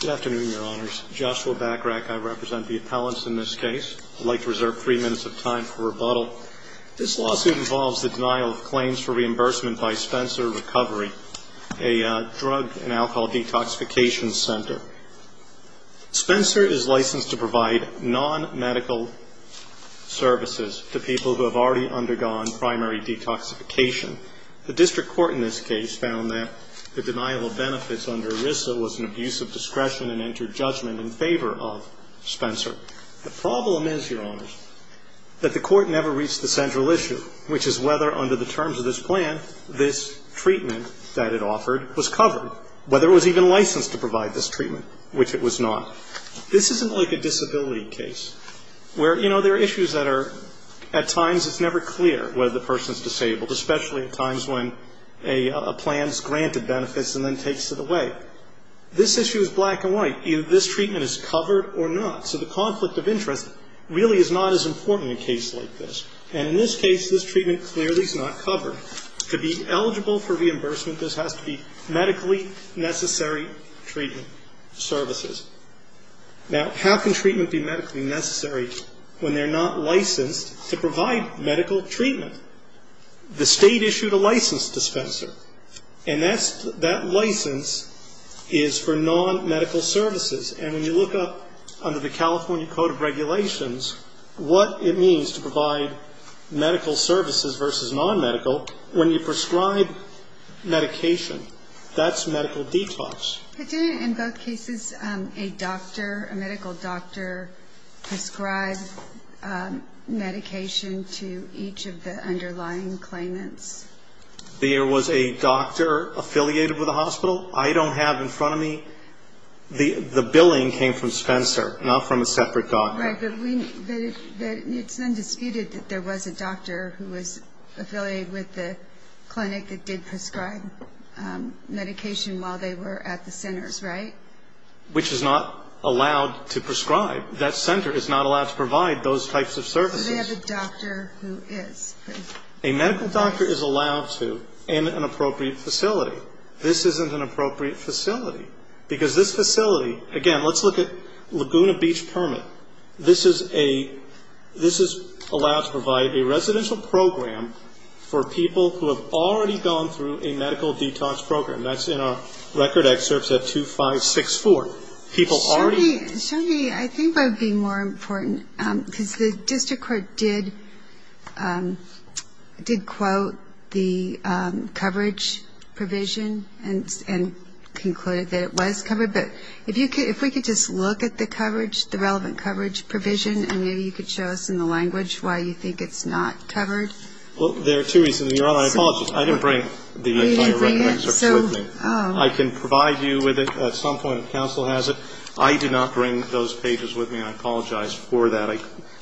Good afternoon, Your Honors. Joshua Bachrach. I represent the appellants in this case. I'd like to reserve three minutes of time for rebuttal. This lawsuit involves the denial of claims for reimbursement by Spencer Recovery, a drug and alcohol detoxification center. Spencer is licensed to provide non-medical services to people who have already undergone primary detoxification. The district court in this case found that the denial of benefits under ERISA was an abuse of discretion and entered judgment in favor of Spencer. The problem is, Your Honors, that the court never reached the central issue, which is whether, under the terms of this plan, this treatment that it offered was covered, whether it was even licensed to provide this treatment, which it was not. Now, this isn't like a disability case, where, you know, there are issues that are, at times it's never clear whether the person is disabled, especially at times when a plan has granted benefits and then takes it away. This issue is black and white. Either this treatment is covered or not. So the conflict of interest really is not as important in a case like this. And in this case, this treatment clearly is not covered. To be eligible for reimbursement, this has to be medically necessary treatment services. Now, how can treatment be medically necessary when they're not licensed to provide medical treatment? The State issued a license to Spencer, and that license is for non-medical services. And when you look up under the California Code of Regulations what it means to provide medical services versus non-medical, when you prescribe medication, that's medical detox. In both cases, a doctor, a medical doctor prescribed medication to each of the underlying claimants. There was a doctor affiliated with the hospital? I don't have in front of me the billing came from Spencer, not from a separate doctor. Right. But it's undisputed that there was a doctor who was affiliated with the clinic that did prescribe medication while they were at the centers, right? Which is not allowed to prescribe. That center is not allowed to provide those types of services. So they have a doctor who is. A medical doctor is allowed to in an appropriate facility. This isn't an appropriate facility. Because this facility, again, let's look at Laguna Beach permit. This is a, this is allowed to provide a residential program for people who have already gone through a medical detox program. That's in our record excerpts at 2, 5, 6, 4. Show me, I think that would be more important. Because the district court did quote the coverage provision and concluded that it was covered. But if we could just look at the coverage, the relevant coverage provision, and maybe you could show us in the language why you think it's not covered. Well, there are two reasons. Your Honor, I apologize. I didn't bring the entire record excerpt with me. I can provide you with it at some point if counsel has it. I did not bring those pages with me, and I apologize for that. I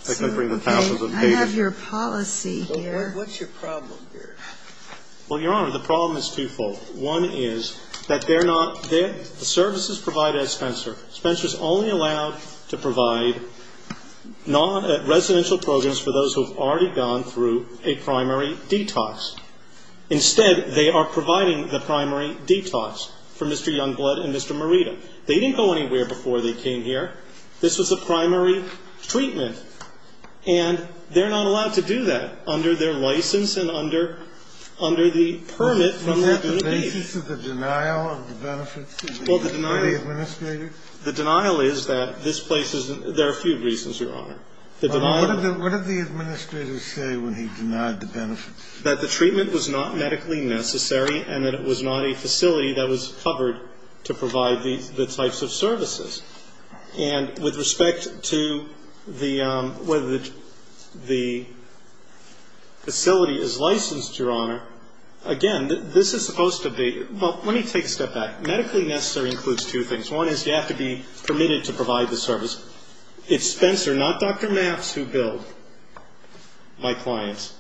didn't bring the thousands of pages. I have your policy here. What's your problem here? Well, Your Honor, the problem is twofold. One is that they're not, the services provided at Spencer. Spencer is only allowed to provide non-residential programs for those who have already gone through a primary detox. Instead, they are providing the primary detox for Mr. Youngblood and Mr. Morita. They didn't go anywhere before they came here. This was a primary treatment. And they're not allowed to do that under their license and under the permit from the community. The basis of the denial of the benefits to the administrator? The denial is that this place isn't – there are a few reasons, Your Honor. What did the administrator say when he denied the benefits? That the treatment was not medically necessary and that it was not a facility that was covered to provide the types of services. And with respect to whether the facility is licensed, Your Honor, again, this is supposed to be – well, let me take a step back. Medically necessary includes two things. One is you have to be permitted to provide the service. It's Spencer, not Dr. Maps, who billed my clients.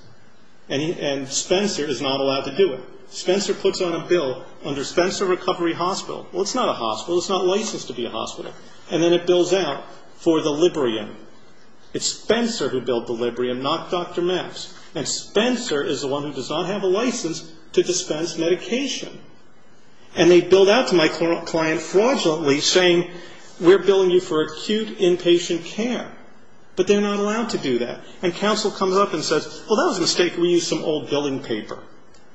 And Spencer is not allowed to do it. Spencer puts on a bill under Spencer Recovery Hospital. Well, it's not a hospital. It's not licensed to be a hospital. And then it bills out for the Librium. It's Spencer who billed the Librium, not Dr. Maps. And Spencer is the one who does not have a license to dispense medication. And they bill that to my client fraudulently, saying, we're billing you for acute inpatient care. But they're not allowed to do that. And counsel comes up and says, well, that was a mistake. We used some old billing paper.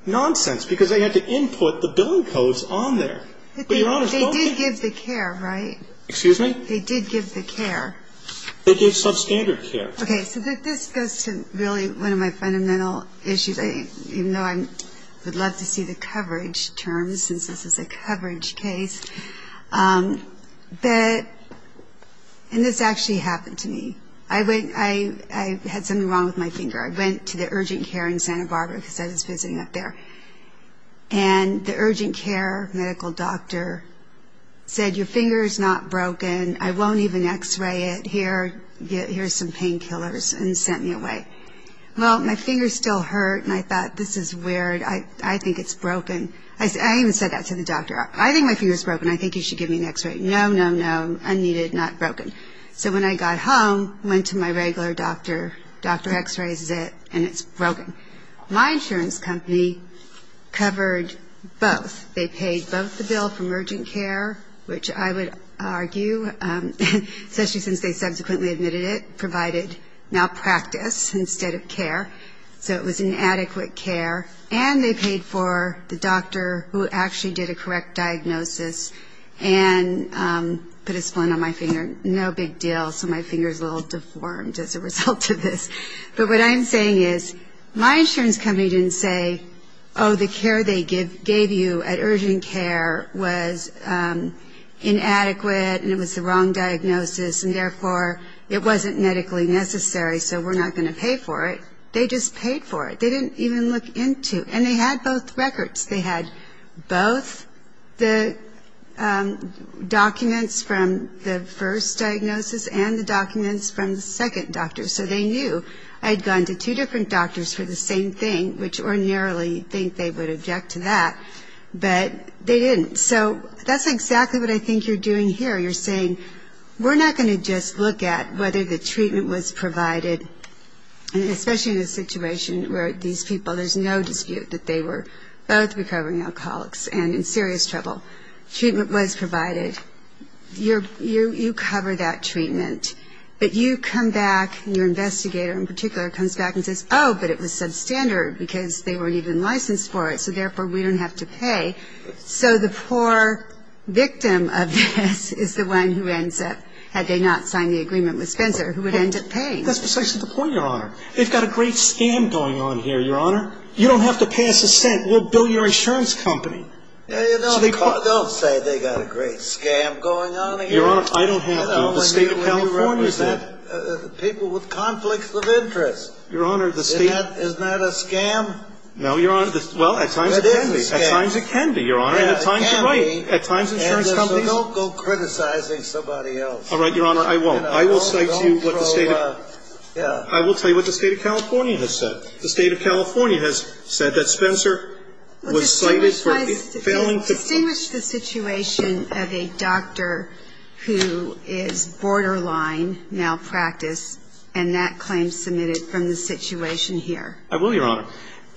Nonsense, because they had to input the billing codes on there. But Your Honor, both of them – But they did give the care, right? Excuse me? They did give the care. They gave substandard care. Okay, so this goes to really one of my fundamental issues, even though I would love to see the coverage terms, since this is a coverage case. And this actually happened to me. I had something wrong with my finger. I went to the urgent care in Santa Barbara, because I was visiting up there. And the urgent care medical doctor said, your finger is not broken. I won't even X-ray it. Here's some painkillers, and sent me away. Well, my finger still hurt, and I thought, this is weird. I think it's broken. I even said that to the doctor. I think my finger is broken. I think you should give me an X-ray. No, no, no, unneeded, not broken. So when I got home, went to my regular doctor. Doctor X-rays it, and it's broken. My insurance company covered both. They paid both the bill for emergent care, which I would argue, especially since they subsequently admitted it, provided malpractice instead of care. So it was inadequate care. And they paid for the doctor who actually did a correct diagnosis and put a splint on my finger. No big deal. So my finger is a little deformed as a result of this. But what I'm saying is, my insurance company didn't say, oh, the care they gave you at urgent care was inadequate, and it was the wrong diagnosis, and therefore it wasn't medically necessary, so we're not going to pay for it. They just paid for it. They didn't even look into it. And they had both records. They had both the documents from the first diagnosis and the documents from the second doctor. So they knew I had gone to two different doctors for the same thing, which ordinarily you'd think they would object to that, but they didn't. So that's exactly what I think you're doing here. You're saying we're not going to just look at whether the treatment was provided, especially in a situation where these people, there's no dispute that they were both recovering alcoholics and in serious trouble. Treatment was provided. You cover that treatment. But you come back, your investigator in particular comes back and says, oh, but it was substandard because they weren't even licensed for it, so therefore we don't have to pay. So the poor victim of this is the one who ends up, had they not signed the agreement with Spencer, who would end up paying. That's precisely the point, Your Honor. They've got a great scam going on here, Your Honor. You don't have to pass a cent. We'll bill your insurance company. Don't say they've got a great scam going on here. Your Honor, I don't have to. The State of California is that. People with conflicts of interest. Your Honor, the State. Isn't that a scam? No, Your Honor. Well, at times it can be. At times it can be, Your Honor. And at times you're right. At times insurance companies. So don't go criticizing somebody else. All right, Your Honor, I won't. I will cite to you what the State of. I will tell you what the State of California has said. The State of California has said that Spencer was cited for failing to. Distinguish the situation of a doctor who is borderline malpractice and that claim submitted from the situation here. I will, Your Honor.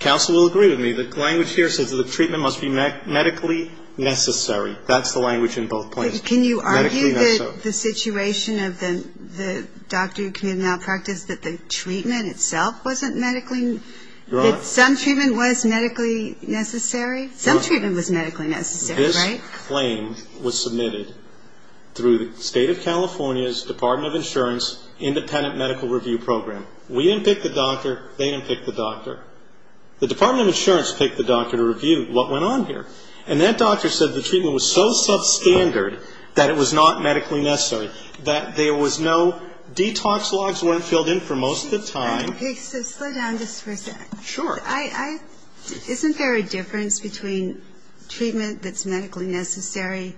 Counsel will agree with me. The language here says that the treatment must be medically necessary. That's the language in both places. But can you argue that the situation of the doctor who committed malpractice, that the treatment itself wasn't medically. Your Honor. That some treatment was medically necessary. Some treatment was medically necessary, right? This claim was submitted through the State of California's Department of Insurance Independent Medical Review Program. We didn't pick the doctor. They didn't pick the doctor. The Department of Insurance picked the doctor to review what went on here. And that doctor said the treatment was so substandard that it was not medically necessary. That there was no detox logs weren't filled in for most of the time. Okay, so slow down just for a sec. Sure. Isn't there a difference between treatment that's medically necessary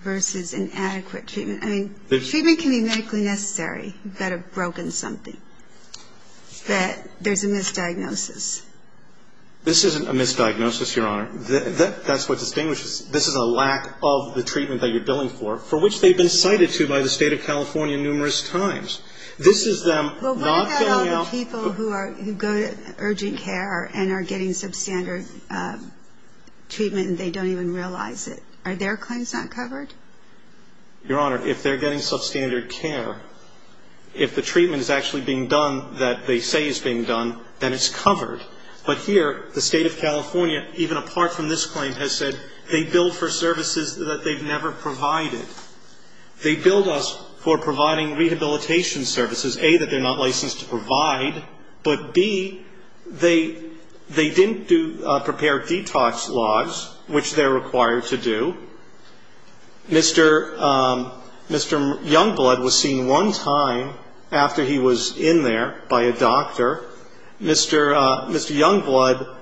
versus inadequate treatment? I mean, treatment can be medically necessary. You've got to have broken something. That there's a misdiagnosis. This isn't a misdiagnosis, Your Honor. That's what distinguishes. This is a lack of the treatment that you're billing for, for which they've been cited to by the State of California numerous times. This is them not filling out. Well, what about all the people who go to urgent care and are getting substandard treatment and they don't even realize it? Are their claims not covered? Your Honor, if they're getting substandard care, if the treatment is actually being done that they say is being done, then it's covered. But here, the State of California, even apart from this claim, has said they bill for services that they've never provided. They billed us for providing rehabilitation services, A, that they're not licensed to provide, but, B, they didn't prepare detox logs, which they're required to do. Mr. Youngblood was seen one time after he was in there by a doctor. Mr. Youngblood,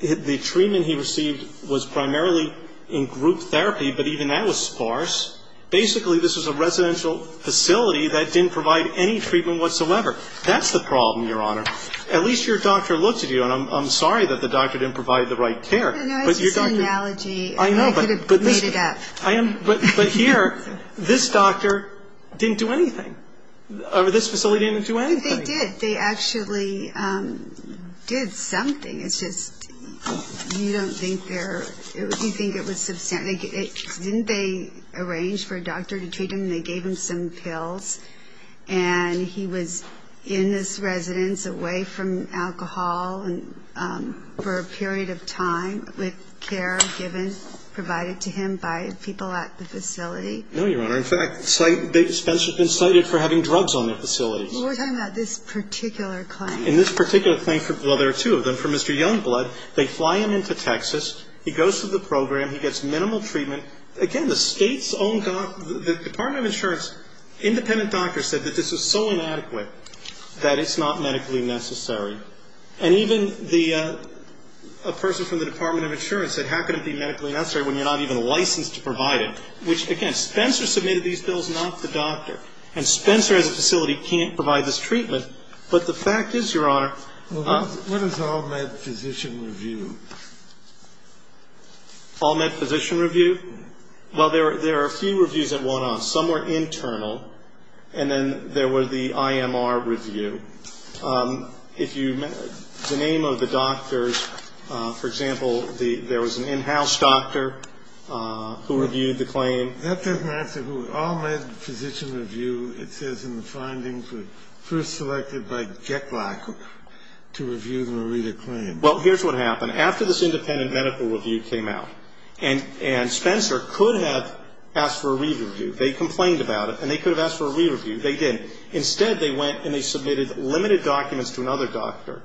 the treatment he received was primarily in group therapy, but even that was sparse. Basically, this was a residential facility that didn't provide any treatment whatsoever. That's the problem, Your Honor. At least your doctor looked at you. And I'm sorry that the doctor didn't provide the right care. No, no. It's just an analogy. I know. I could have made it up. But here, this doctor didn't do anything. This facility didn't do anything. They did. They actually did something. It's just you don't think they're – you think it was – didn't they arrange for a doctor to treat him? They gave him some pills, and he was in this residence away from alcohol for a period of time with care given, provided to him by people at the facility. No, Your Honor. In fact, Spencer's been cited for having drugs on the facility. We're talking about this particular claim. In this particular claim, well, there are two of them. For Mr. Youngblood, they fly him into Texas. He goes through the program. He gets minimal treatment. And, again, the State's own – the Department of Insurance independent doctor said that this was so inadequate that it's not medically necessary. And even the – a person from the Department of Insurance said, how can it be medically necessary when you're not even licensed to provide it? Which, again, Spencer submitted these bills, not the doctor. And Spencer, as a facility, can't provide this treatment. But the fact is, Your Honor – Well, what is all-med physician review? All-med physician review? Well, there are a few reviews that went on. Some were internal. And then there was the IMR review. If you – the name of the doctors, for example, there was an in-house doctor who reviewed the claim. That doesn't answer who. All-med physician review, it says in the findings, was first selected by Jeklak to review the Morita claim. Well, here's what happened. After this independent medical review came out, and Spencer could have asked for a re-review. They complained about it, and they could have asked for a re-review. They didn't. Instead, they went and they submitted limited documents to another doctor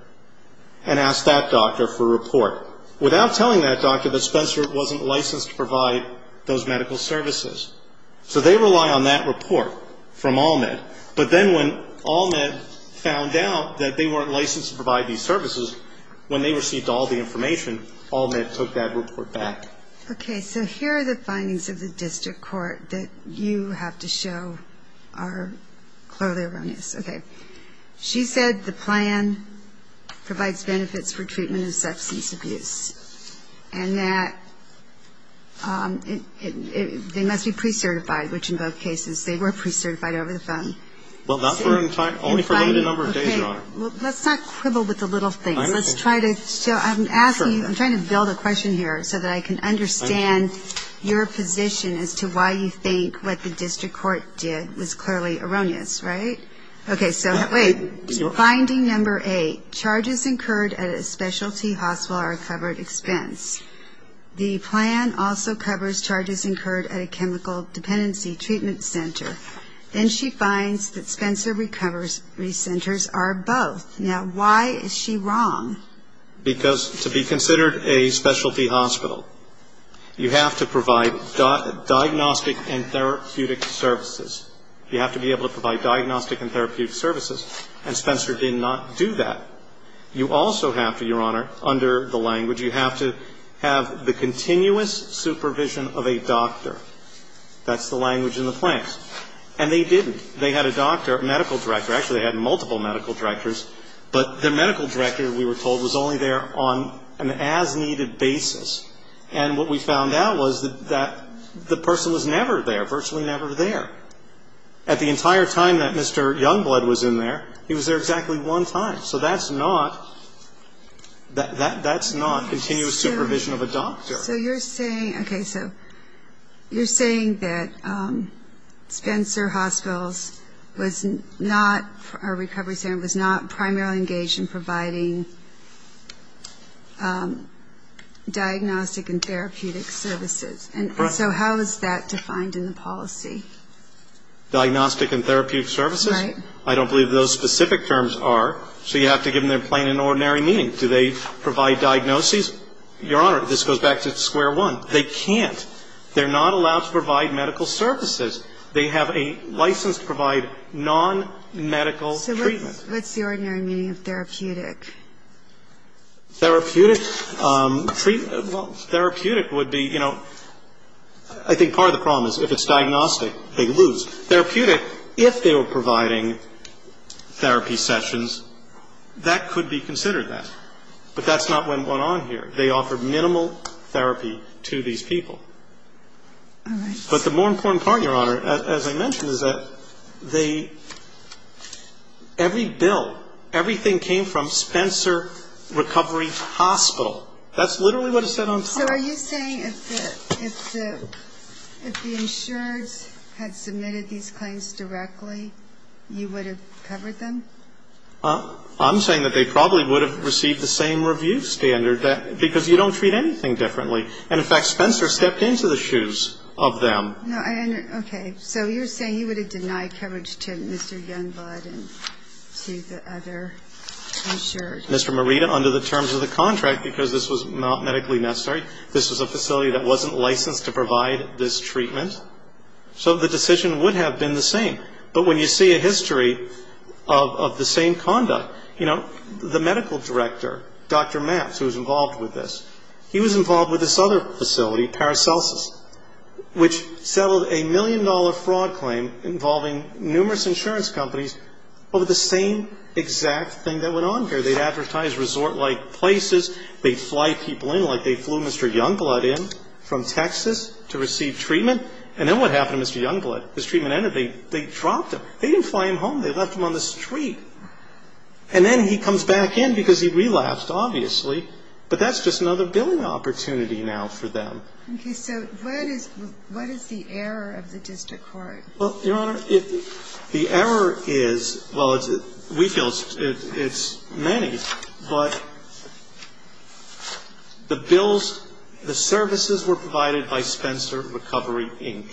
and asked that doctor for a report, without telling that doctor that Spencer wasn't licensed to provide those medical services. So they rely on that report from all-med. But then when all-med found out that they weren't licensed to provide these services, when they received all the information, all-med took that report back. Okay. So here are the findings of the district court that you have to show are clearly erroneous. Okay. She said the plan provides benefits for treatment of substance abuse, and that they must be pre-certified, which in both cases, they were pre-certified over the phone. Well, not for a time. Only for a limited number of days, Your Honor. Let's not quibble with the little things. Let's try to show. I'm asking. I'm trying to build a question here so that I can understand your position as to why you think what the district court did was clearly erroneous, right? Okay. So wait. So finding number eight, charges incurred at a specialty hospital are a covered expense. The plan also covers charges incurred at a chemical dependency treatment center. Then she finds that Spencer Recovery Centers are both. Now, why is she wrong? Because to be considered a specialty hospital, you have to provide diagnostic and therapeutic services. You have to be able to provide diagnostic and therapeutic services. And Spencer did not do that. You also have to, Your Honor, under the language, you have to have the continuous supervision of a doctor. That's the language in the plan. And they didn't. They had a doctor, a medical director. Actually, they had multiple medical directors. But the medical director, we were told, was only there on an as-needed basis. And what we found out was that the person was never there, virtually never there. At the entire time that Mr. Youngblood was in there, he was there exactly one time. So that's not continuous supervision of a doctor. So you're saying, okay, so you're saying that Spencer Hospitals was not a recovery center, was not primarily engaged in providing diagnostic and therapeutic services. Correct. And so how is that defined in the policy? Diagnostic and therapeutic services? Right. I don't believe those specific terms are. So you have to give them their plain and ordinary meaning. Do they provide diagnoses? Your Honor, this goes back to square one. They can't. They're not allowed to provide medical services. They have a license to provide nonmedical treatment. So what's the ordinary meaning of therapeutic? Therapeutic would be, you know, I think part of the problem is if it's diagnostic, they lose. Therapeutic, if they were providing therapy sessions, that could be considered that. But that's not what went on here. They offered minimal therapy to these people. All right. But the more important part, Your Honor, as I mentioned, is that they, every bill, everything came from Spencer Recovery Hospital. That's literally what it said on paper. So are you saying if the insureds had submitted these claims directly, you would have covered them? I'm saying that they probably would have received the same review standard, because you don't treat anything differently. And, in fact, Spencer stepped into the shoes of them. No, I understand. Okay. So you're saying you would have denied coverage to Mr. Youngblood and to the other insured? Mr. Morita, under the terms of the contract, because this was not medically necessary, this was a facility that wasn't licensed to provide this treatment. So the decision would have been the same. But when you see a history of the same conduct, you know, the medical director, Dr. Matz, who was involved with this, he was involved with this other facility, Paracelsus, which settled a million-dollar fraud claim involving numerous insurance companies over the same exact thing that went on here. They advertised resort-like places. They'd fly people in like they flew Mr. Youngblood in from Texas to receive treatment. And then what happened to Mr. Youngblood? His treatment ended. They dropped him. They didn't fly him home. They left him on the street. And then he comes back in because he relapsed, obviously. But that's just another billing opportunity now for them. Okay. So what is the error of the district court? Well, Your Honor, the error is, well, we feel it's many. But the bills, the services were provided by Spencer Recovery, Inc.,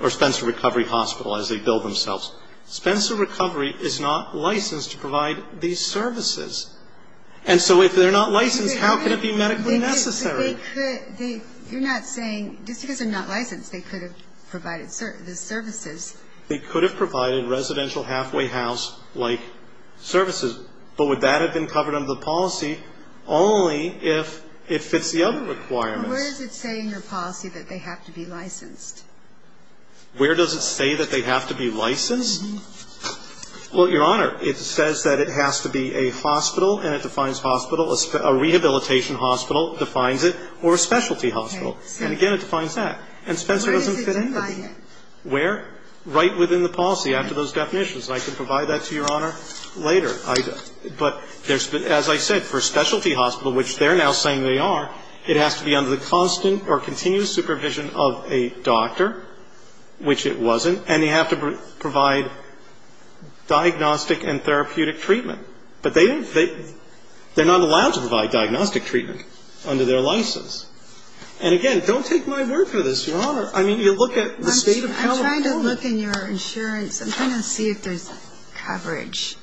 or Spencer Recovery Hospital, as they bill themselves. Spencer Recovery is not licensed to provide these services. And so if they're not licensed, how can it be medically necessary? They could be. You're not saying, just because they're not licensed, they could have provided the services. They could have provided residential halfway house-like services. But would that have been covered under the policy only if it fits the other requirements? Well, where does it say in your policy that they have to be licensed? Where does it say that they have to be licensed? Well, Your Honor, it says that it has to be a hospital, and it defines hospital. A rehabilitation hospital defines it, or a specialty hospital. And again, it defines that. And Spencer doesn't fit into that. Where does it define it? Where? Right within the policy after those definitions. And I can provide that to Your Honor later. But as I said, for a specialty hospital, which they're now saying they are, it has to be under the constant or continuous supervision of a doctor, which it wasn't. And they have to provide diagnostic and therapeutic treatment. But they're not allowed to provide diagnostic treatment under their license. And again, don't take my word for this, Your Honor. I mean, you look at the State of California. I'm trying to look in your insurance. I'm trying to see if there's coverage.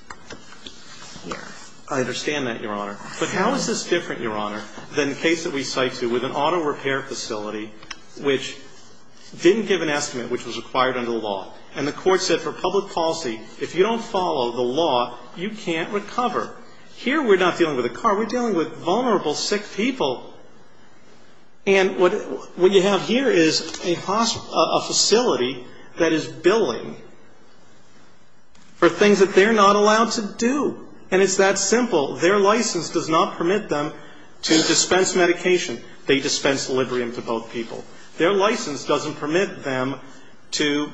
I understand that, Your Honor. But how is this different, Your Honor, than the case that we cite to with an auto repair facility which didn't give an estimate which was required under the law? And the Court said for public policy, if you don't follow the law, you can't recover. Here we're not dealing with a car. We're dealing with vulnerable, sick people. And what you have here is a facility that is billing for things that they're not allowed to do. And it's that simple. Their license does not permit them to dispense medication. They dispense Librium to both people. Their license doesn't permit them to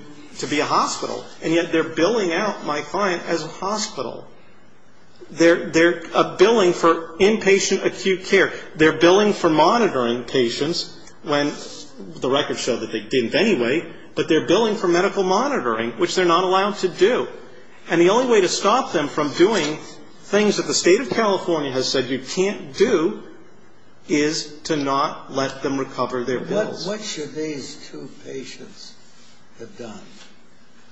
be a hospital. And yet they're billing out my client as a hospital. They're billing for inpatient acute care. They're billing for monitoring patients when the records show that they didn't anyway. But they're billing for medical monitoring, which they're not allowed to do. And the only way to stop them from doing things that the State of California has said you can't do is to not let them recover their bills. What should these two patients have done?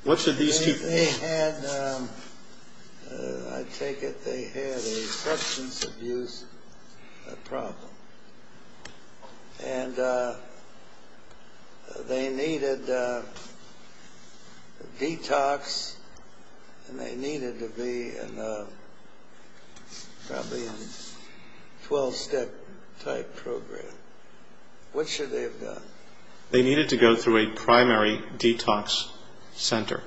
What should these two patients have done? I take it they had a substance abuse problem. And they needed detox and they needed to be in probably a 12-step type program. What should they have done? They needed to go through a primary detox center.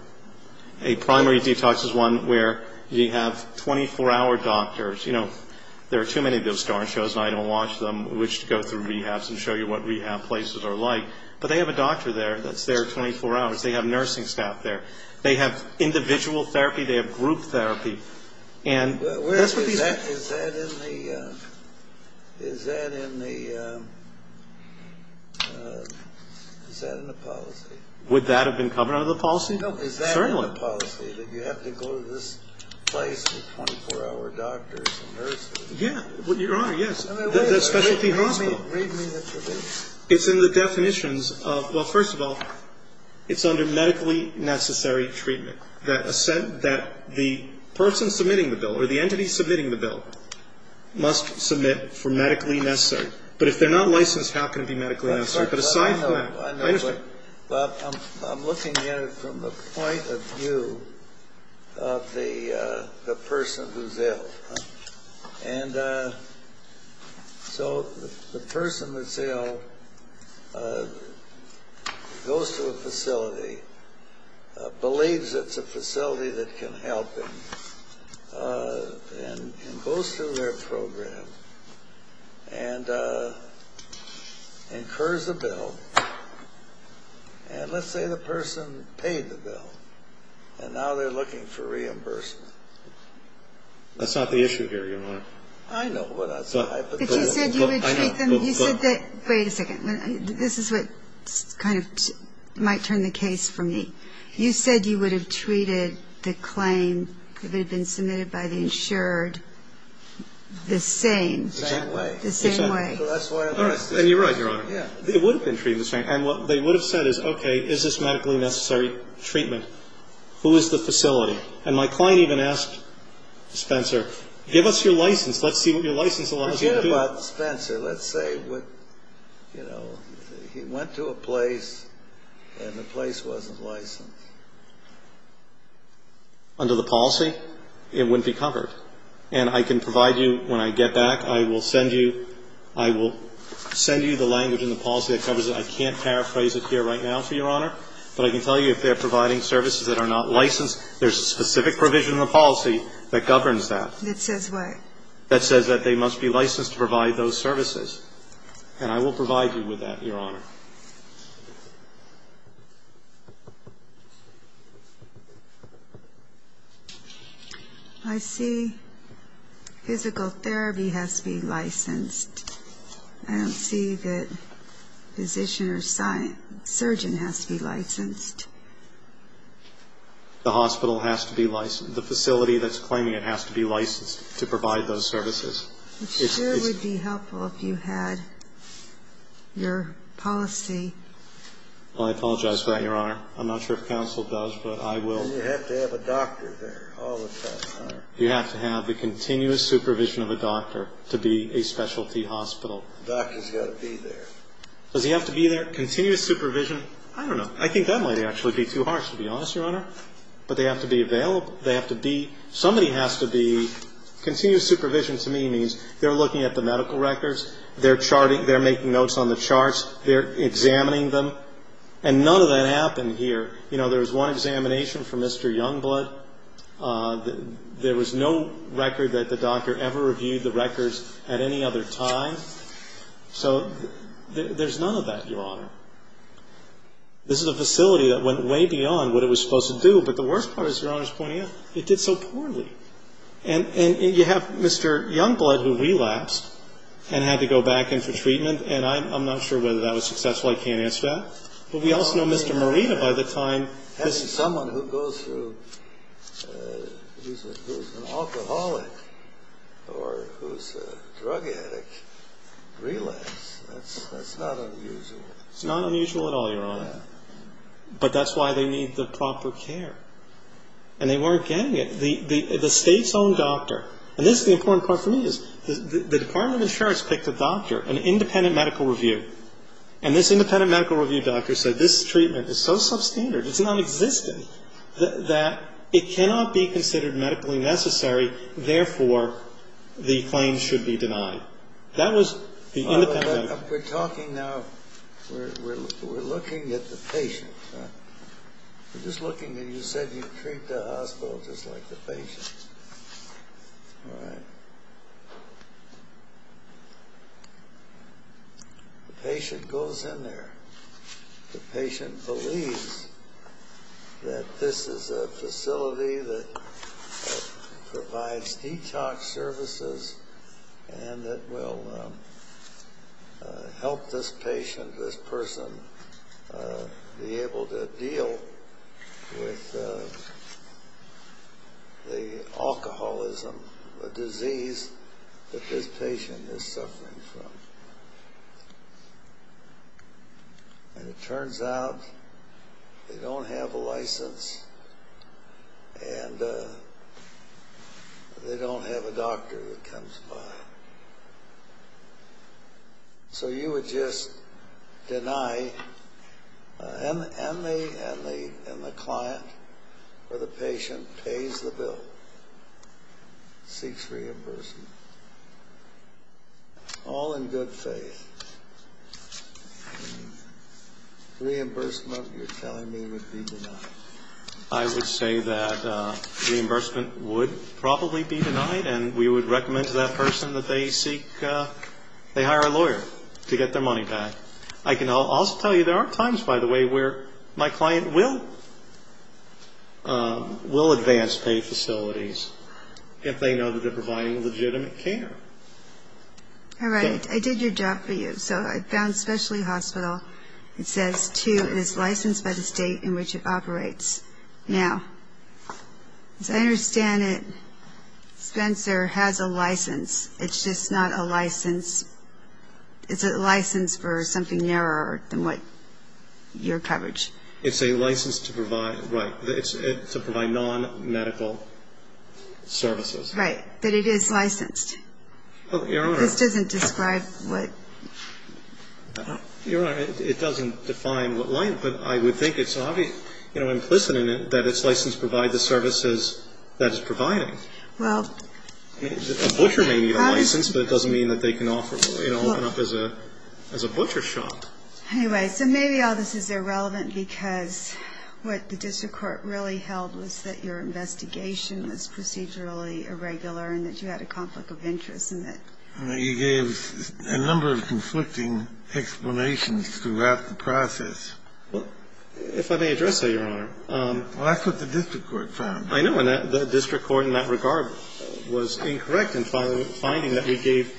A primary detox is one where you have 24-hour doctors. You know, there are too many of those darn shows, and I don't watch them, which go through rehabs and show you what rehab places are like. But they have a doctor there that's there 24 hours. They have nursing staff there. They have individual therapy. They have group therapy. And that's what these are. Is that in the policy? Would that have been covered under the policy? No. Is that in the policy that you have to go to this place with 24-hour doctors? Yeah. Your Honor, yes. The specialty hospital. Read me the tributes. It's in the definitions of, well, first of all, it's under medically necessary treatment that the person submitting the bill or the entity submitting the bill must submit for medically necessary. But if they're not licensed, how can it be medically necessary? But aside from that, I understand. Well, I'm looking at it from the point of view of the person who's ill. And so the person that's ill goes to a facility, believes it's a facility that can help them, and goes through their program and incurs a bill. And let's say the person paid the bill, and now they're looking for reimbursement. That's not the issue here, Your Honor. I know what that's like. But you said you would treat them. Wait a second. This is what kind of might turn the case for me. You said you would have treated the claim that had been submitted by the insured the same. The same way. The same way. So that's why it's the same. And you're right, Your Honor. It would have been treated the same. And what they would have said is, okay, is this medically necessary treatment? Who is the facility? And my client even asked Spencer, give us your license. Let's see what your license allows you to do. Forget about Spencer. Let's say, you know, he went to a place and the place wasn't licensed. Under the policy, it wouldn't be covered. And I can provide you, when I get back, I will send you the language in the policy that covers it. I can't paraphrase it here right now, Your Honor, but I can tell you if they're providing services that are not licensed, there's a specific provision in the policy that governs that. That says what? That says that they must be licensed to provide those services. And I will provide you with that, Your Honor. I see physical therapy has to be licensed. I don't see that physician or surgeon has to be licensed. The hospital has to be licensed. The facility that's claiming it has to be licensed to provide those services. It sure would be helpful if you had your policy. Well, I apologize for that, Your Honor. I'm not sure if counsel does, but I will. And you have to have a doctor there all the time, Your Honor. You have to have the continuous supervision of a doctor to be a specialty hospital. The doctor's got to be there. Does he have to be there? Continuous supervision? I don't know. I think that might actually be too harsh, to be honest, Your Honor. But they have to be available. They have to be. Somebody has to be. Continuous supervision to me means they're looking at the medical records. They're charting. They're making notes on the charts. They're examining them. And none of that happened here. You know, there was one examination for Mr. Youngblood. There was no record that the doctor ever reviewed the records at any other time. So there's none of that, Your Honor. This is a facility that went way beyond what it was supposed to do. But the worst part, as Your Honor's pointing out, it did so poorly. And you have Mr. Youngblood, who relapsed and had to go back in for treatment. And I'm not sure whether that was successful. I can't answer that. But we also know Mr. Marina, by the time this happened. But someone who goes through, who's an alcoholic or who's a drug addict relapses. That's not unusual. It's not unusual at all, Your Honor. But that's why they need the proper care. And they weren't getting it. The State's own doctor, and this is the important part for me, is the Department of Insurance picked a doctor, an independent medical review. And this independent medical review doctor said this treatment is so substandard, it's nonexistent, that it cannot be considered medically necessary. Therefore, the claim should be denied. That was the independent medical review. We're talking now, we're looking at the patient. We're just looking, and you said you treat the hospital just like the patient. All right. The patient goes in there. The patient believes that this is a facility that provides detox services and that will help this patient, this person, be able to deal with the alcoholism, the disease that this patient is suffering from. And it turns out they don't have a license and they don't have a doctor that comes by. So you would just deny, and the client or the patient pays the bill, seeks reimbursement. All in good faith. Reimbursement, you're telling me, would be denied. I would say that reimbursement would probably be denied, and we would recommend to that person that they seek, they hire a lawyer to get their money back. I can also tell you there are times, by the way, where my client will advance pay facilities if they know that they're providing legitimate care. All right. I did your job for you. So I found specialty hospital. It says, too, it is licensed by the state in which it operates. Now, as I understand it, Spencer has a license. It's just not a license. It's a license for something narrower than what your coverage. It's a license to provide, right, to provide nonmedical services. Right. But it is licensed. Your Honor. This doesn't describe what. Your Honor, it doesn't define what, but I would think it's obvious. You know, implicit in it that it's licensed to provide the services that it's providing. Well. A butcher may need a license, but it doesn't mean that they can offer, you know, open up as a butcher shop. Anyway, so maybe all this is irrelevant because what the district court really held was that your investigation was procedurally irregular and that you had a conflict of interest. You gave a number of conflicting explanations throughout the process. Well, if I may address that, Your Honor. Well, that's what the district court found. I know. And the district court in that regard was incorrect in finding that we gave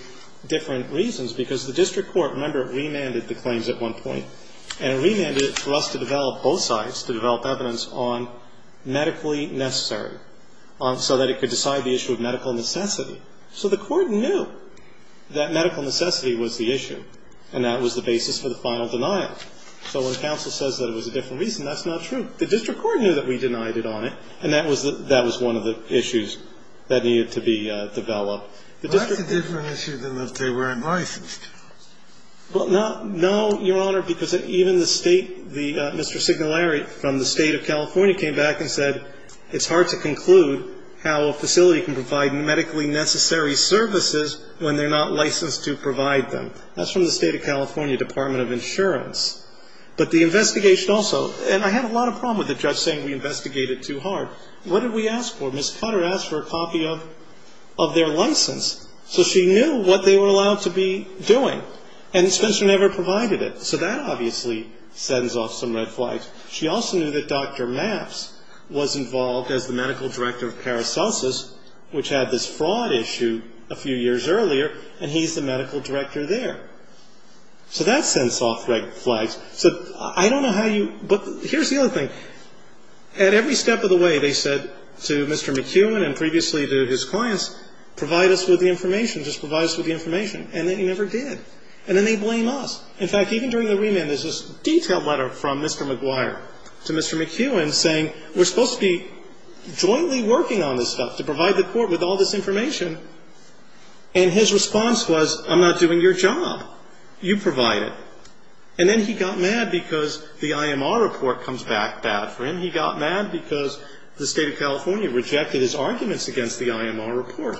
different reasons because the district court, remember, remanded the claims at one point. And it remanded it for us to develop both sides, to develop evidence on medically necessary so that it could decide the issue of medical necessity. So the court knew that medical necessity was the issue, and that was the basis for the final denial. So when counsel says that it was a different reason, that's not true. The district court knew that we denied it on it, and that was one of the issues that needed to be developed. Well, that's a different issue than that they weren't licensed. Well, no, Your Honor, because even the State, Mr. Signolari from the State of California came back and said it's hard to conclude how a facility can provide medically necessary services when they're not licensed to provide them. That's from the State of California Department of Insurance. But the investigation also, and I had a lot of problem with the judge saying we investigated too hard. What did we ask for? Ms. Cutter asked for a copy of their license. So she knew what they were allowed to be doing, and Spencer never provided it. So that obviously sends off some red flags. She also knew that Dr. Maps was involved as the medical director of Paracelsus, which had this fraud issue a few years earlier, and he's the medical director there. So that sends off red flags. So I don't know how you – but here's the other thing. At every step of the way, they said to Mr. McEwen and previously to his clients, provide us with the information, just provide us with the information. And they never did. And then they blame us. In fact, even during the remand, there's this detailed letter from Mr. McGuire to Mr. McEwen saying we're supposed to be jointly working on this stuff, to provide the court with all this information. And his response was, I'm not doing your job. You provide it. And then he got mad because the IMR report comes back bad for him. He got mad because the state of California rejected his arguments against the IMR report.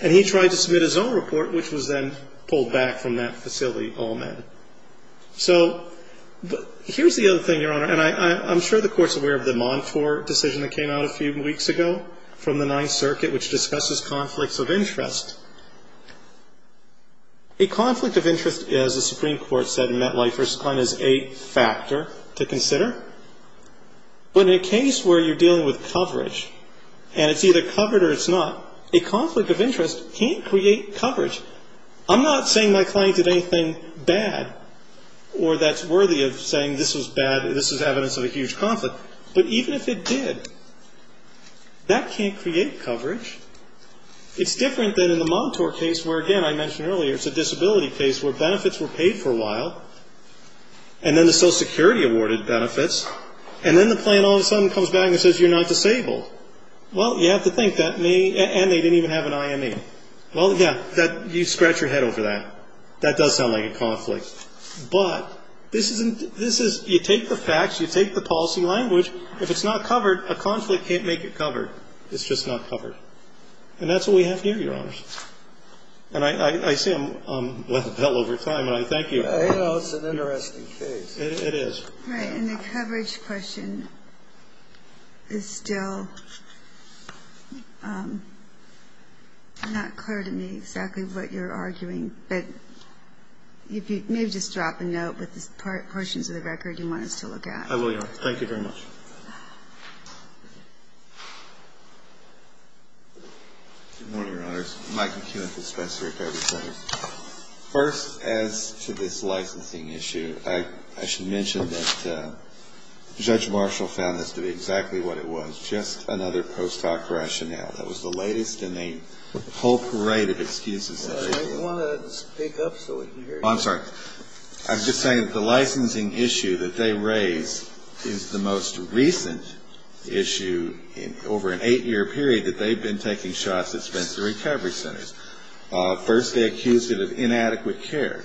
And he tried to submit his own report, which was then pulled back from that facility, all men. So here's the other thing, Your Honor. And I'm sure the Court's aware of the Montour decision that came out a few weeks ago from the Ninth Circuit, which discusses conflicts of interest. A conflict of interest, as the Supreme Court said in MetLife, is a factor to consider. But in a case where you're dealing with coverage, and it's either covered or it's not, a conflict of interest can't create coverage. I'm not saying my client did anything bad or that's worthy of saying this was bad, this is evidence of a huge conflict. But even if it did, that can't create coverage. It's different than in the Montour case where, again, I mentioned earlier, it's a disability case where benefits were paid for a while, and then the Social Security awarded benefits, and then the client all of a sudden comes back and says you're not disabled. Well, you have to think that may be, and they didn't even have an IME. Well, yeah, you scratch your head over that. That does sound like a conflict. But this is, you take the facts, you take the policy language, if it's not covered, a conflict can't make it covered. It's just not covered. And that's what we have here, Your Honors. And I say I'm well over time, and I thank you. It's an interesting case. It is. All right. And the coverage question is still not clear to me exactly what you're arguing. But maybe just drop a note with the portions of the record you want us to look at. I will, Your Honor. Thank you very much. Good morning, Your Honors. Mike McKeon with the Special Court Coverage Center. First, as to this licensing issue, I should mention that Judge Marshall found this to be exactly what it was, just another post hoc rationale. That was the latest in a whole parade of excuses. I want to speak up so we can hear you. I'm sorry. I'm just saying that the licensing issue that they raise is the most recent issue over an eight-year period that they've been taking shots at Spencer Recovery Centers. First, they accused it of inadequate care.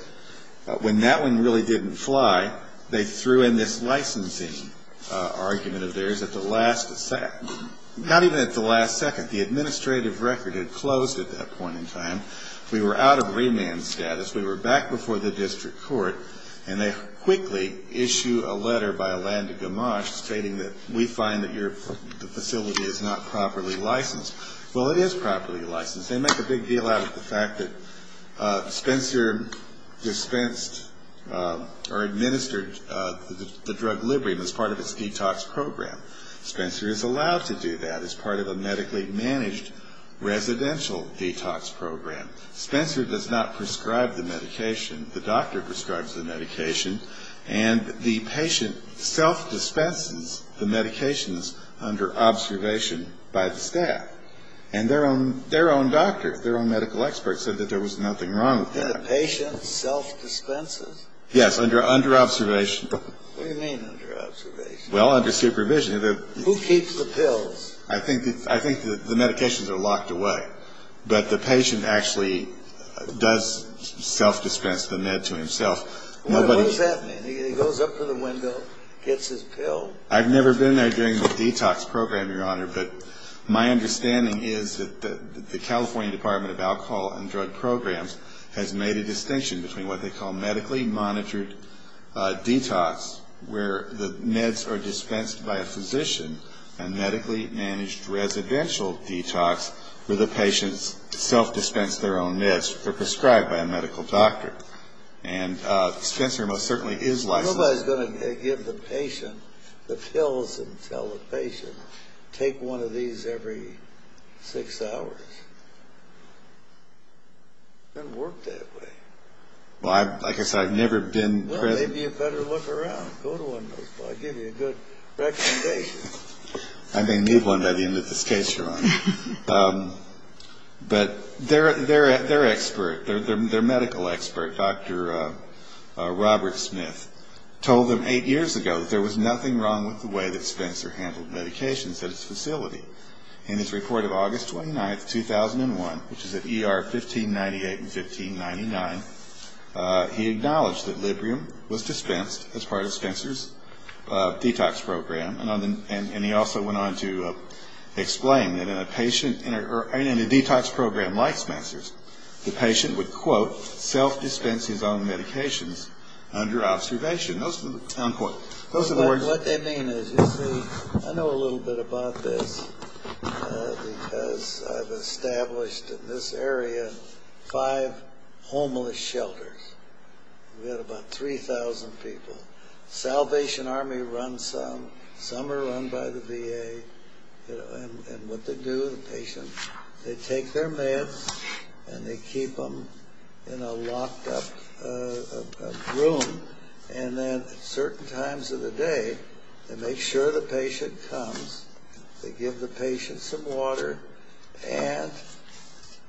When that one really didn't fly, they threw in this licensing argument of theirs at the last second. Not even at the last second. The administrative record had closed at that point in time. We were out of remand status. We were back before the district court. And they quickly issue a letter by a land of gamash stating that we find that your facility is not properly licensed. Well, it is properly licensed. They make a big deal out of the fact that Spencer dispensed or administered the drug Librium as part of its detox program. Spencer is allowed to do that as part of a medically managed residential detox program. Spencer does not prescribe the medication. The doctor prescribes the medication. And the patient self-dispenses the medications under observation by the staff. And their own doctor, their own medical expert said that there was nothing wrong with that. And the patient self-dispenses? Yes, under observation. What do you mean under observation? Well, under supervision. Who keeps the pills? I think the medications are locked away. But the patient actually does self-dispense the med to himself. What does that mean? He goes up to the window, gets his pill. I've never been there during the detox program, Your Honor. But my understanding is that the California Department of Alcohol and Drug Programs has made a distinction between what they call medically monitored detox where the meds are dispensed by a physician and medically managed residential detox where the patients self-dispense their own meds or prescribed by a medical doctor. And Spencer most certainly is licensed. Nobody's going to give the patient the pills and tell the patient, take one of these every six hours. It doesn't work that way. Well, like I said, I've never been present. Well, maybe you better look around. Go to one of those. I'll give you a good recommendation. I may need one by the end of this case, Your Honor. But their expert, their medical expert, Dr. Robert Smith, told them eight years ago that there was nothing wrong with the way that Spencer handled medications at his facility. In his report of August 29, 2001, which is at ER 1598 and 1599, he acknowledged that Librium was dispensed as part of Spencer's detox program. And he also went on to explain that in a detox program like Spencer's, the patient would, quote, self-dispense his own medications under observation. Those are the words. What they mean is, you see, I know a little bit about this because I've established in this area five homeless shelters. We had about 3,000 people. Salvation Army runs some. Some are run by the VA. And what they do, the patient, they take their meds and they keep them in a locked-up room. And then at certain times of the day, they make sure the patient comes. They give the patient some water. And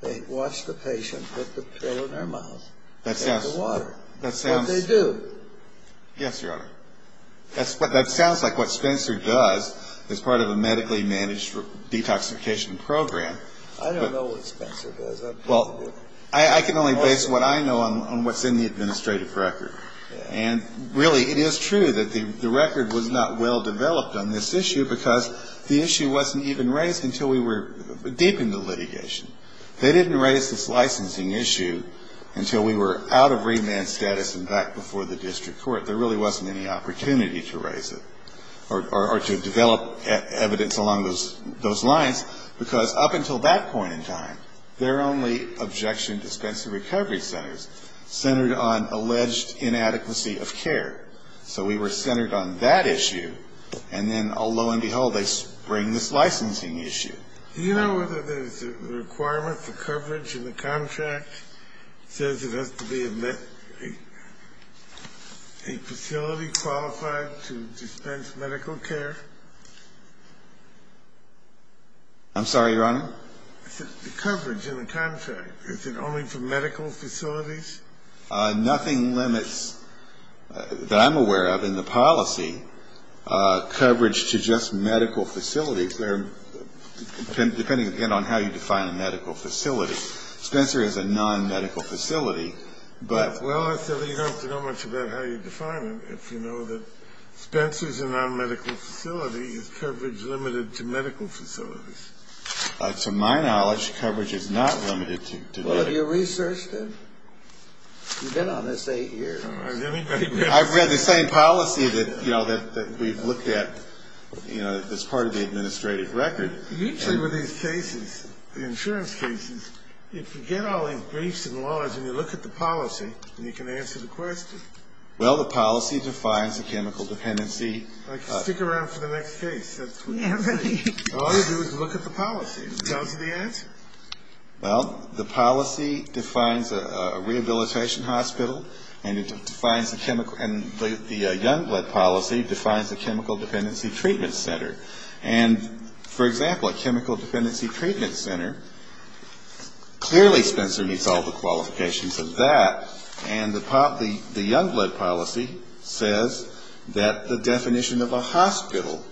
they watch the patient put the pill in their mouth. That sounds. Take the water. That sounds. They do. Yes, Your Honor. That sounds like what Spencer does as part of a medically managed detoxification program. I don't know what Spencer does. Well, I can only base what I know on what's in the administrative record. And, really, it is true that the record was not well developed on this issue because the issue wasn't even raised until we were deep into litigation. They didn't raise this licensing issue until we were out of remand status and back before the district court. There really wasn't any opportunity to raise it or to develop evidence along those lines because up until that point in time, their only objection to Spencer Recovery Centers centered on alleged inadequacy of care. So we were centered on that issue. And then, lo and behold, they bring this licensing issue. Do you know whether there's a requirement for coverage in the contract? It says it has to be a facility qualified to dispense medical care. I'm sorry, Your Honor? I said the coverage in the contract. Is it only for medical facilities? Nothing limits that I'm aware of in the policy coverage to just medical facilities. Depending, again, on how you define a medical facility. Spencer is a non-medical facility. Well, I said you don't have to know much about how you define it if you know that Spencer's a non-medical facility. Is coverage limited to medical facilities? To my knowledge, coverage is not limited to medical facilities. Well, have you researched it? You've been on this eight years. I've read the same policy that we've looked at as part of the administrative record. Usually with these cases, the insurance cases, if you get all these briefs and laws and you look at the policy, then you can answer the question. Well, the policy defines a chemical dependency. Stick around for the next case. All you do is look at the policy. It tells you the answer. Well, the policy defines a rehabilitation hospital and the Youngblood policy defines a chemical dependency treatment center. And, for example, a chemical dependency treatment center, clearly Spencer meets all the qualifications of that, and the Youngblood policy says that the definition of a hospital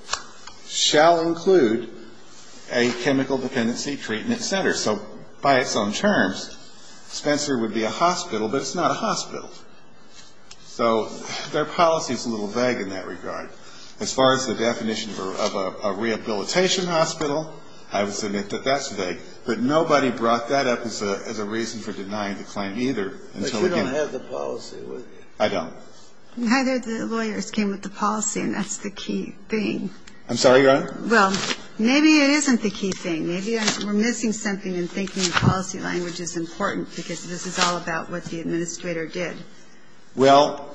shall include a chemical dependency treatment center. So by its own terms, Spencer would be a hospital, but it's not a hospital. So their policy is a little vague in that regard. As far as the definition of a rehabilitation hospital, I would submit that that's vague. But nobody brought that up as a reason for denying the claim either. But you don't have the policy, would you? I don't. Neither of the lawyers came with the policy, and that's the key thing. I'm sorry, Your Honor? Well, maybe it isn't the key thing. Maybe we're missing something in thinking the policy language is important because this is all about what the administrator did. Well,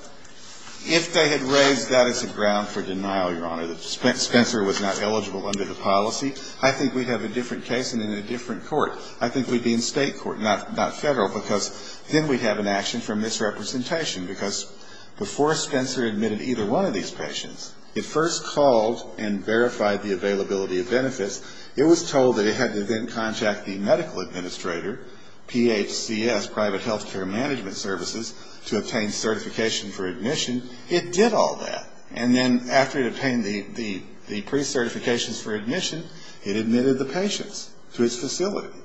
if they had raised that as a ground for denial, Your Honor, that Spencer was not eligible under the policy, I think we'd have a different case and in a different court. I think we'd be in State court, not Federal, because then we'd have an action for misrepresentation because before Spencer admitted either one of these patients, it first called and verified the availability of benefits. It was told that it had to then contact the medical administrator, PHCS, private health care management services, to obtain certification for admission. It did all that. And then after it obtained the pre-certifications for admission, it admitted the patients to its facility.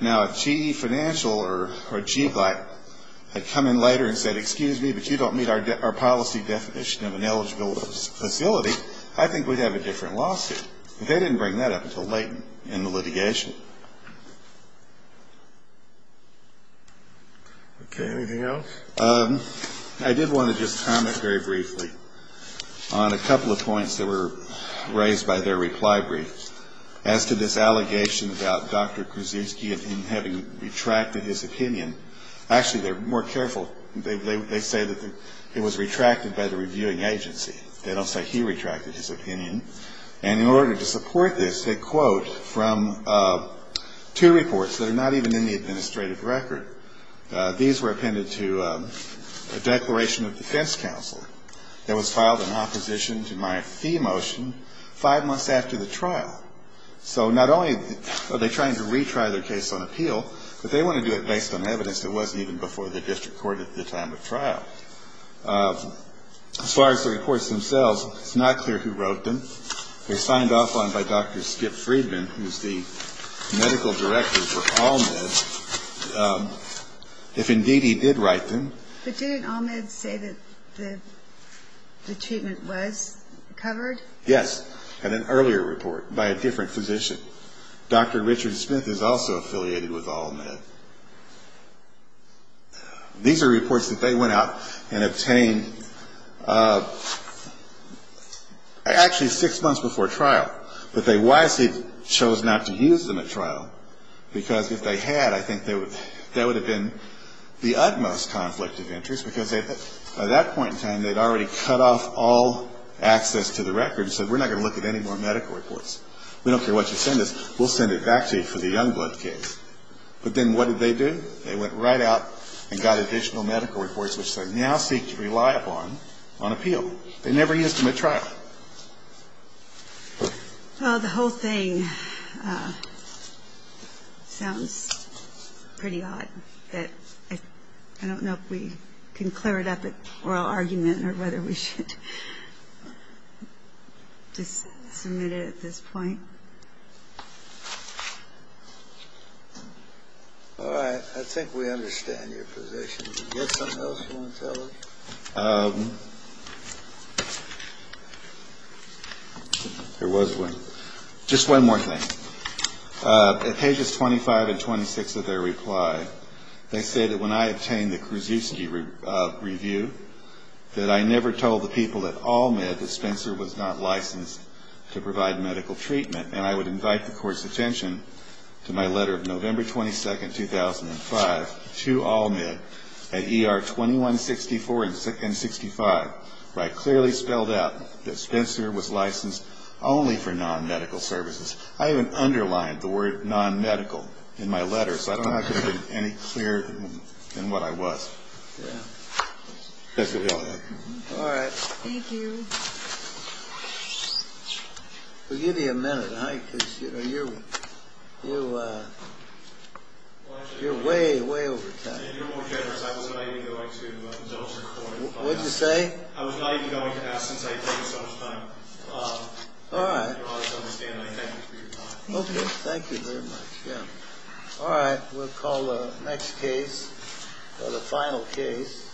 Now, if GE Financial or GBLAC had come in later and said, excuse me, but you don't meet our policy definition of an eligible facility, I think we'd have a different lawsuit. They didn't bring that up until late in the litigation. Okay, anything else? I did want to just comment very briefly on a couple of points that were raised by their reply brief as to this allegation about Dr. Krzyzewski and him having retracted his opinion. Actually, they're more careful. They say that it was retracted by the reviewing agency. They don't say he retracted his opinion. And in order to support this, they quote from two reports that are not even in the administrative record. These were appended to a declaration of defense counsel that was filed in opposition to my fee motion five months after the trial. So not only are they trying to retry their case on appeal, but they want to do it based on evidence that wasn't even before the district court at the time of trial. As far as the reports themselves, it's not clear who wrote them. They signed off on by Dr. Skip Friedman, who's the medical director for Almed. If, indeed, he did write them. But didn't Almed say that the treatment was covered? Yes, in an earlier report by a different physician. Dr. Richard Smith is also affiliated with Almed. These are reports that they went out and obtained actually six months before trial. But they wisely chose not to use them at trial because if they had, I think that would have been the utmost conflict of interest because by that point in time, they'd already cut off all access to the records and said we're not going to look at any more medical reports. We don't care what you send us. We'll send it back to you for the Youngblood case. But then what did they do? They went right out and got additional medical reports, which they now seek to rely upon on appeal. They never used them at trial. Well, the whole thing sounds pretty odd. I don't know if we can clear it up at oral argument or whether we should just submit it at this point. All right. I think we understand your position. Do you have something else you want to tell us? There was one. Just one more thing. At pages 25 and 26 of their reply, they say that when I obtained the Kruszewski review, that I never told the people at Almed that Spencer was not licensed to provide medical treatment, and I would invite the Court's attention to my letter of November 22, 2005, to Almed at ER 2164 and 65, where I clearly spelled out that Spencer was licensed only for non-medical services. I even underlined the word non-medical in my letter, so I don't know if it would have been any clearer than what I was. All right. Thank you. We'll give you a minute, huh, because you're way, way over time. You're more generous. I was not even going to the doctor's appointment. What did you say? I was not even going to ask since I had taken so much time. All right. Your Honor, as I understand it, I thank you for your time. Okay. Thank you very much. Yeah. All right. We'll call the next case or the final case.